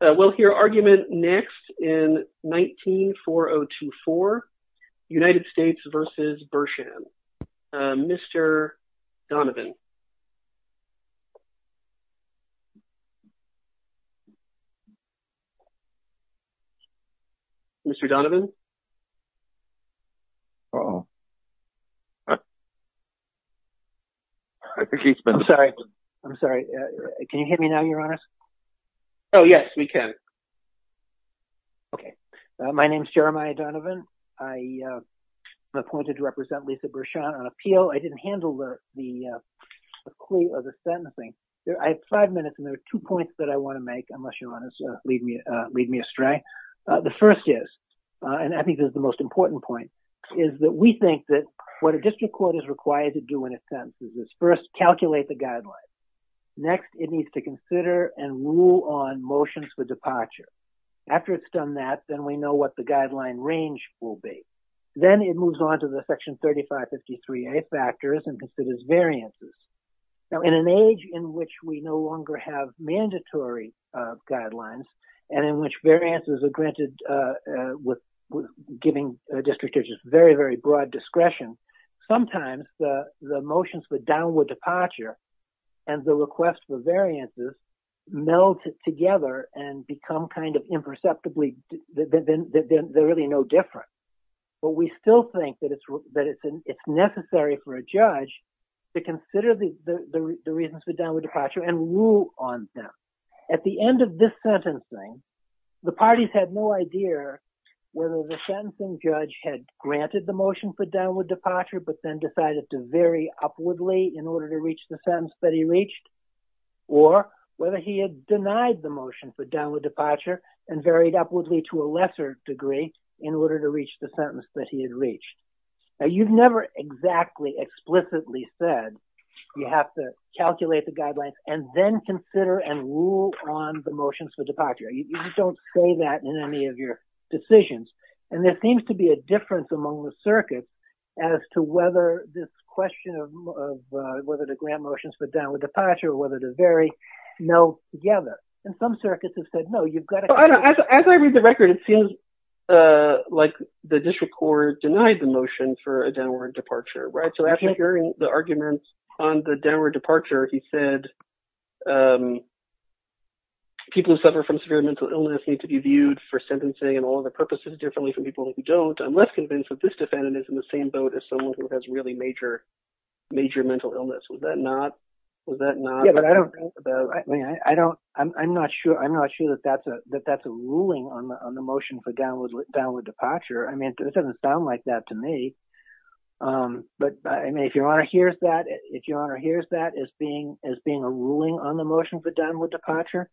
We'll hear argument next in 194024, United States v. Bershan. Mr. Donovan. Mr. Donovan? I'm sorry. I'm sorry. Can you hear me now, Your Honor? Oh, yes, we can. Okay. My name is Jeremiah Donovan. I am appointed to represent Lisa Bershan on appeal. I didn't handle the clue or the sentencing. I have five minutes and there are two points that I want to make, unless you want to lead me astray. The first is, and I think this is the most important point, is that we think that what a district court is required to is first calculate the guidelines. Next, it needs to consider and rule on motions for departure. After it's done that, then we know what the guideline range will be. Then it moves on to the section 3553A factors and considers variances. Now, in an age in which we no longer have mandatory guidelines and in which variances are granted with giving district judges very, very broad discretion, sometimes the motions for downward departure and the request for variances meld together and become kind of imperceptibly, they're really no different. But we still think that it's necessary for a judge to consider the reasons for downward departure and rule on them. At the end of this sentencing, the parties had no idea whether the sentencing judge had granted the motion for downward departure but then decided to vary upwardly in order to reach the sentence that he reached, or whether he had denied the motion for downward departure and varied upwardly to a lesser degree in order to reach the sentence that he had reached. Now, you've never exactly explicitly said you have to calculate the guidelines and then consider and rule on the in any of your decisions. And there seems to be a difference among the circuits as to whether this question of whether the grant motions for downward departure or whether they vary meld together. And some circuits have said, no, you've got to- As I read the record, it seems like the district court denied the motion for a downward departure, right? So after hearing the arguments on the downward departure, he said, people who suffer from severe mental illness need to be viewed for sentencing and all other purposes differently from people who don't. I'm less convinced that this defendant is in the same boat as someone who has really major mental illness. Was that not- Yeah, but I don't- I mean, I don't- I'm not sure that that's a ruling on the motion for downward departure. I mean, it doesn't sound like that to me. But I mean, if your Honor hears that, if your Honor hears that as being a ruling on the motion for downward departure,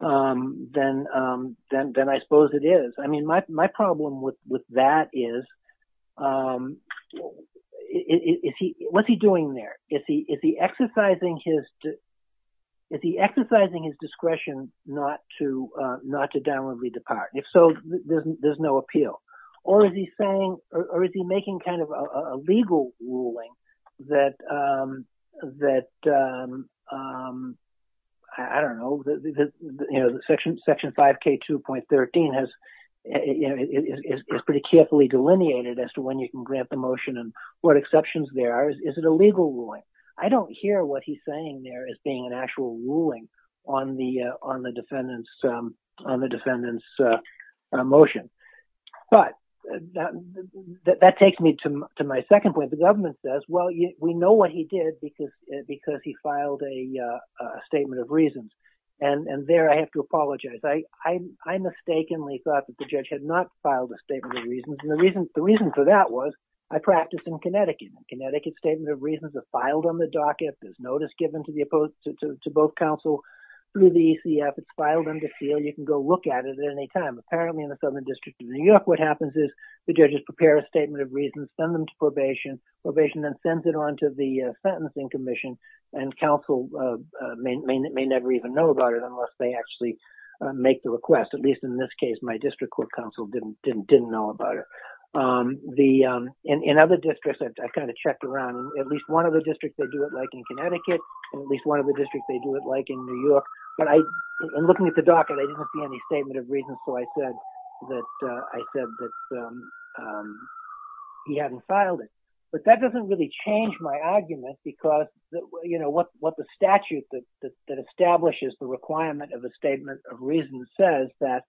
then I suppose it is. I mean, my problem with that is, what's he doing there? Is he exercising his discretion not to downwardly depart? If so, there's no appeal. Or is he saying- or is he making kind of a legal ruling that, I don't know, Section 5K2.13 is pretty carefully delineated as to when you can grant the motion and what exceptions there are. Is it a legal ruling? I don't hear what he's saying there as being an actual ruling on the defendant's motion. But that takes me to my second point. The government says, well, we know what he did because he filed a statement of reasons. And there I have to apologize. I mistakenly thought that the judge had not filed a statement of reasons. And the reason for that was I practiced in Connecticut. Connecticut statements of reasons are filed on the docket. There's notice given to both counsel through the ECF. It's filed under seal. You can go look at it at any time. Apparently, in the Southern District of New York, what happens is the judges prepare a statement of reasons, send them to probation. Probation then sends it on to the Sentencing Commission, and counsel may never even know about it unless they actually make the request. At least in this case, my district court counsel didn't know about it. In other districts, I kind of checked around. At least one of the districts, they do it like in Connecticut. At least one of the districts, they do it like in New York. But in looking at the docket, I didn't see any statement of reasons. So I said that he hadn't filed it. But that doesn't really change my argument because what the statute that establishes the requirement of a statement of reasons says that,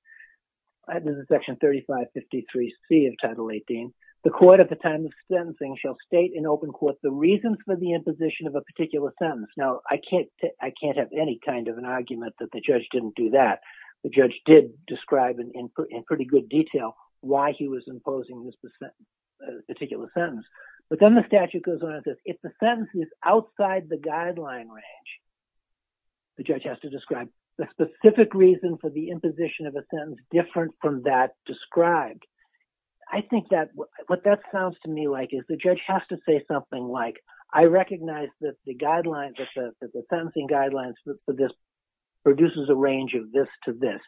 this is Section 3553C of Title 18, the court at the time of sentencing shall state in open court the reasons for the imposition of a particular sentence. Now, I can't have any kind of an argument that the judge didn't do that. The judge did describe in pretty good detail why he was imposing this particular sentence. But then the statute goes on and says if the sentence is outside the guideline range, the judge has to describe the specific reason for the imposition of a sentence different from that described. I think that what that sounds to me like is the judge has to say something like, I recognize that the guidelines, that the sentencing guidelines for this produces a range of this to this.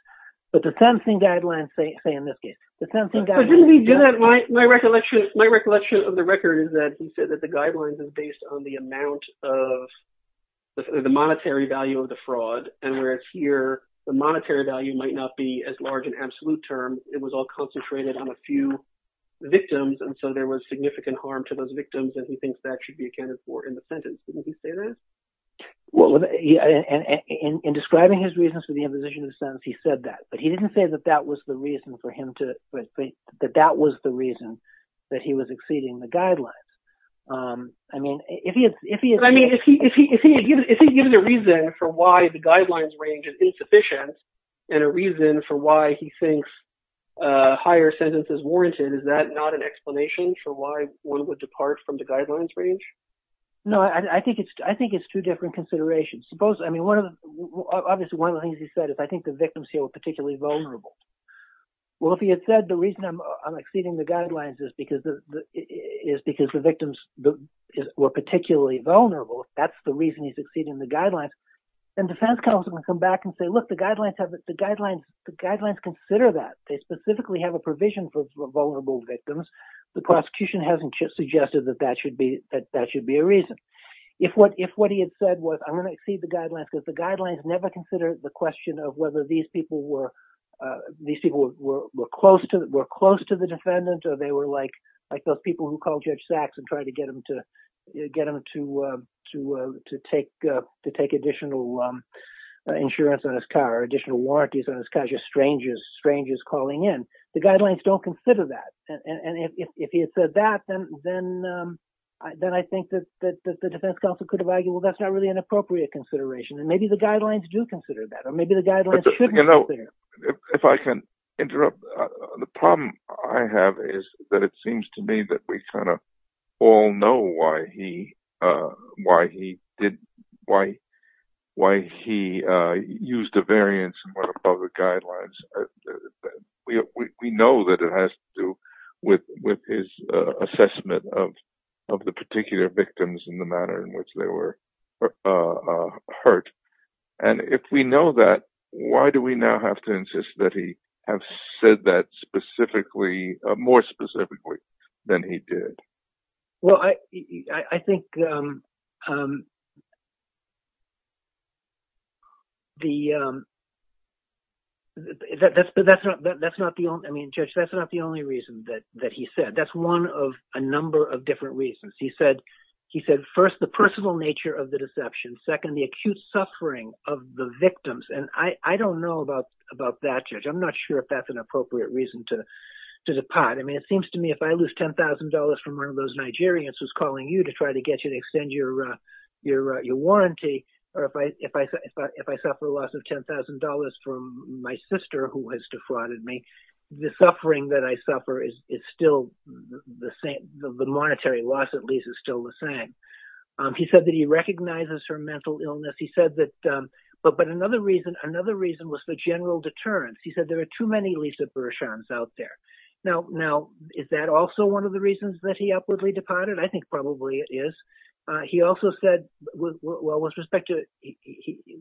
But the sentencing guidelines say in this case, the sentencing guidelines... And whereas here, the monetary value might not be as large an absolute term. It was all concentrated on a few victims. And so there was significant harm to those victims. And he thinks that should be accounted for in the sentence. Didn't he say that? In describing his reasons for the imposition of the sentence, he said that. But he didn't say that that was the reason for him to think that that was the reason that he was exceeding the guidelines. I mean, if he had given a reason for why the guidelines range is insufficient and a reason for why he thinks a higher sentence is warranted, is that not an explanation for why one would depart from the guidelines range? No, I think it's two different considerations. Suppose, I mean, obviously one of the things he said is I think the victims here were particularly vulnerable. Well, if he had said the reason I'm exceeding the guidelines is because the victims were particularly vulnerable. That's the reason he's exceeding the guidelines. And defense counsel would come back and say, look, the guidelines consider that. They specifically have a provision for vulnerable victims. The prosecution hasn't just suggested that that should be a reason. If what he had said was I'm going to exceed the guidelines, the guidelines never consider the question of whether these people were these people were close to were close to the defendant. Or they were like like those people who called Judge Sachs and tried to get him to get him to to to take to take additional insurance on his car, additional warranties on his car, just strangers, strangers calling in. The guidelines don't consider that. And if he had said that, then then then I think that that the defense counsel could have argued, well, that's not really an appropriate consideration. And maybe the guidelines do consider that. Or maybe the guidelines, you know, if I can interrupt. The problem I have is that it seems to me that we kind of all know why he why he did why why he used a variance of the guidelines. We know that it has to do with with his assessment of of the particular victims in the manner in which they were hurt. And if we know that, why do we now have to insist that he have said that specifically more specifically than he did? Well, I think. The. That's but that's not that's not the only I mean, Judge, that's not the only reason that that he said that's one of a number of different reasons. He said he said, first, the personal nature of the deception. Second, the acute suffering of the victims. And I don't know about about that. I'm not sure if that's an appropriate reason to do the part. I mean, it seems to me if I lose ten thousand dollars from one of those Nigerians who's calling you to try to get you to extend your your your warranty. Or if I if I if I suffer a loss of ten thousand dollars from my sister who has defrauded me, the suffering that I suffer is it's still the same. The monetary loss, at least, is still the same. He said that he recognizes her mental illness. He said that. But but another reason, another reason was the general deterrence. He said there are too many Lisa Bershons out there now. Now, is that also one of the reasons that he upwardly departed? I think probably it is. He also said, well, with respect to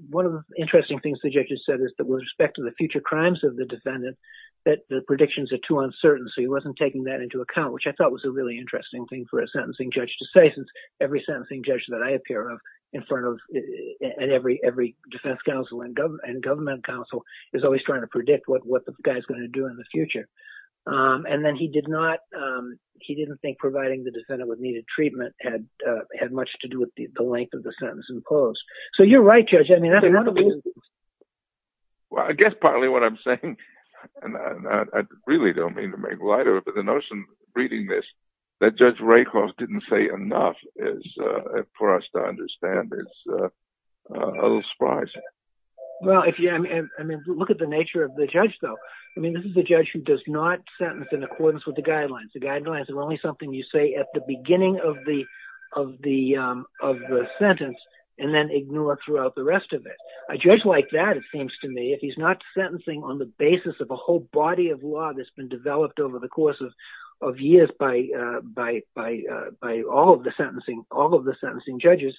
one of the interesting things the judges said is that with respect to the future crimes of the defendant, that the predictions are too uncertain. So he wasn't taking that into account, which I thought was a really interesting thing for a sentencing judge to say. For instance, every sentencing judge that I appear in front of and every every defense counsel and government and government counsel is always trying to predict what the guy is going to do in the future. And then he did not he didn't think providing the defendant with needed treatment had had much to do with the length of the sentence imposed. So you're right, Judge. I mean, I guess partly what I'm saying and I really don't mean to make lighter. But the notion reading this, that Judge Rakoff didn't say enough is for us to understand is a little surprising. Well, if you look at the nature of the judge, though, I mean, this is a judge who does not sentence in accordance with the guidelines. The guidelines are only something you say at the beginning of the of the of the sentence and then ignore throughout the rest of it. A judge like that, it seems to me, if he's not sentencing on the basis of a whole body of law that's been developed over the course of of years by by by all of the sentencing, all of the sentencing judges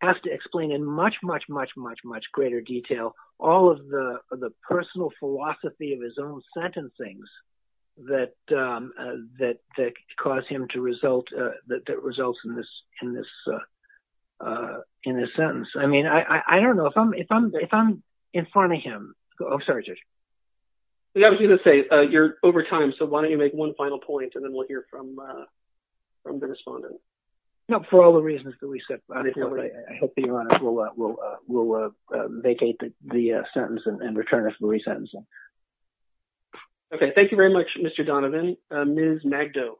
has to explain in much, much, much, much, much greater detail all of the personal philosophy of his own sentencing's that that cause him to result that results in this in this in this sentence. I mean, I don't know if I'm if I'm if I'm in front of him. I'm sorry, Judge. I was going to say you're over time, so why don't you make one final point and then we'll hear from the respondent. For all the reasons that we said, I hope we'll vacate the sentence and return it to the re-sentencing. OK, thank you very much, Mr. Donovan. Ms. Magdo.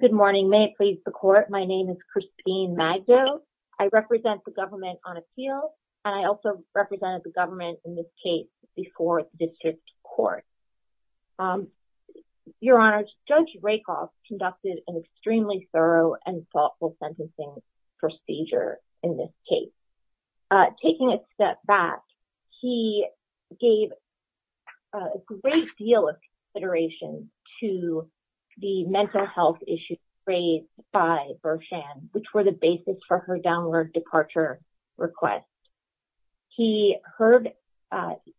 Good morning. May it please the court. My name is Christine Magdo. I represent the government on appeal and I also represented the government in this case before the district court. Your Honor, Judge Rakoff conducted an extremely thorough and thoughtful sentencing procedure in this case. Taking a step back, he gave a great deal of consideration to the mental health issues raised by Berchan, which were the basis for her downward departure request. He heard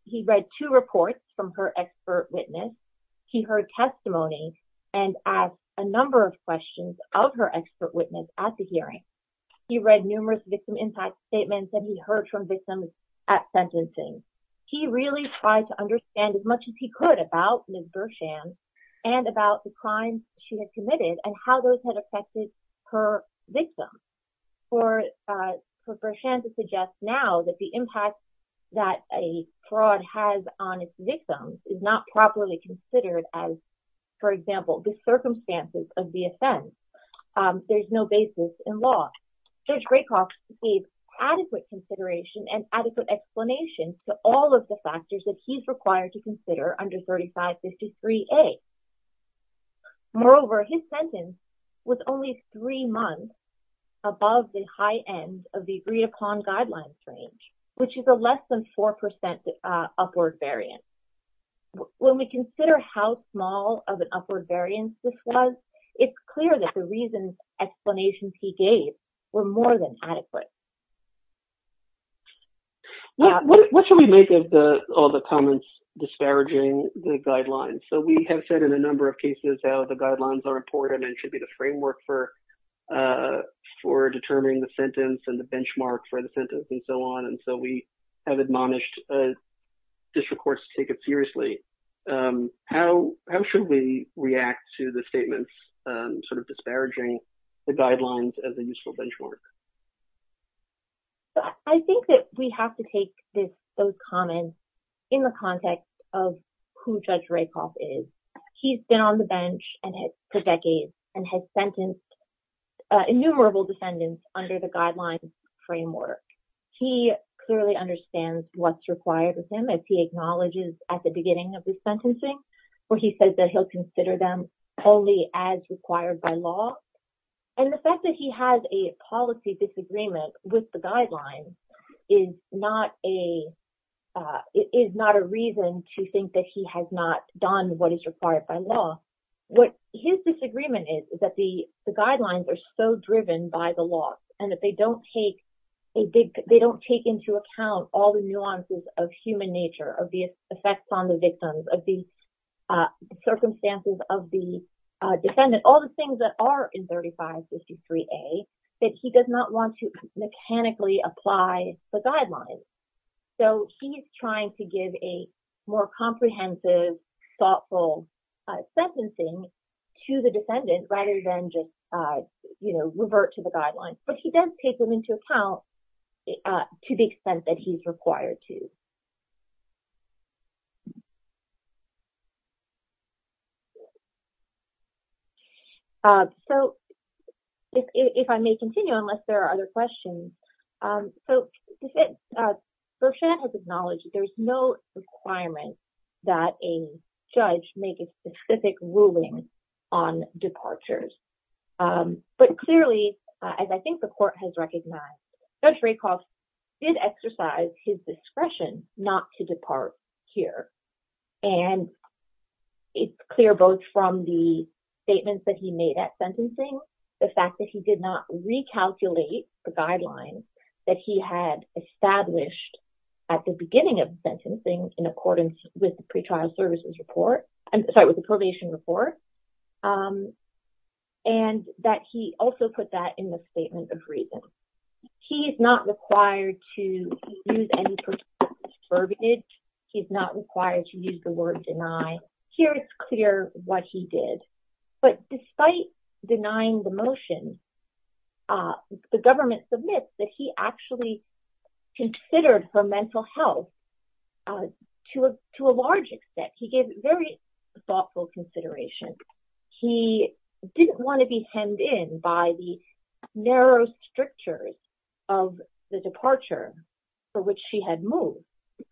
he read two reports from her expert witness. He heard testimony and asked a number of questions of her expert witness at the hearing. He read numerous victim impact statements that he heard from victims at sentencing. He really tried to understand as much as he could about Ms. Berchan and about the crimes she had committed and how those had affected her victim. For Berchan to suggest now that the impact that a fraud has on its victims is not properly considered as, for example, the circumstances of the offense. There's no basis in law. Judge Rakoff gave adequate consideration and adequate explanation to all of the factors that he's required to consider under 3553A. Moreover, his sentence was only three months above the high end of the read-upon guidelines range, which is a less than 4% upward variance. When we consider how small of an upward variance this was, it's clear that the reasons, explanations he gave were more than adequate. What should we make of all the comments disparaging the guidelines? So, we have said in a number of cases how the guidelines are important and should be the framework for determining the sentence and the benchmark for the sentence and so on. We have admonished district courts to take it seriously. How should we react to the statements disparaging the guidelines as a useful benchmark? I think that we have to take those comments in the context of who Judge Rakoff is. He's been on the bench for decades and has sentenced innumerable defendants under the guidelines framework. He clearly understands what's required of him, as he acknowledges at the beginning of his sentencing, where he says that he'll consider them only as required by law. And the fact that he has a policy disagreement with the guidelines is not a reason to think that he has not done what is required by law. What his disagreement is, is that the guidelines are so driven by the law and that they don't take into account all the nuances of human nature, of the effects on the victims, of the circumstances of the defendant, all the things that are in 3553A, that he does not want to mechanically apply the guidelines. So, he's trying to give a more comprehensive, thoughtful sentencing to the defendant rather than just revert to the guidelines. But he does take them into account to the extent that he's required to. So, if I may continue, unless there are other questions. So, Berchan has acknowledged that there's no requirement that a judge make a specific ruling on departures. But clearly, as I think the court has recognized, Judge Rakoff did exercise his discretion not to depart here. And it's clear both from the statements that he made at sentencing, the fact that he did not recalculate the guidelines that he had established at the beginning of the sentencing in accordance with the pre-trial services report. I'm sorry, with the probation report. And that he also put that in the statement of reasons. He is not required to use any particular terminage. He's not required to use the word deny. Here it's clear what he did. But despite denying the motion, the government submits that he actually considered her mental health to a large extent. He gave very thoughtful consideration. He didn't want to be hemmed in by the narrow strictures of the departure for which she had moved.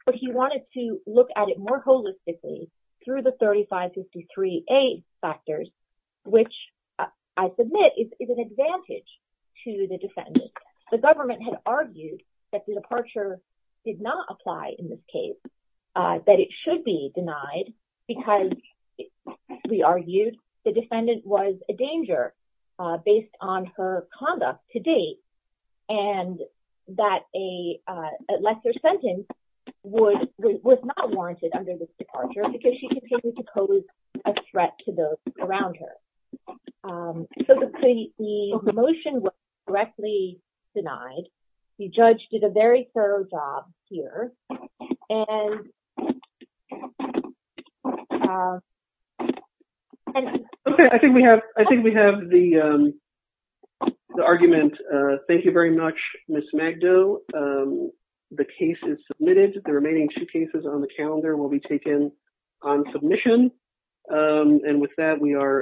But he wanted to look at it more holistically through the 3553A factors, which I submit is an advantage to the defendant. The government had argued that the departure did not apply in this case. That it should be denied because, we argued, the defendant was a danger based on her conduct to date. And that a lesser sentence was not warranted under this departure because she continued to pose a threat to those around her. So the motion was directly denied. The judge did a very thorough job here. Okay, I think we have the argument. Thank you very much, Ms. Magdo. The case is submitted. The remaining two cases on the calendar will be taken on submission. And with that, we are.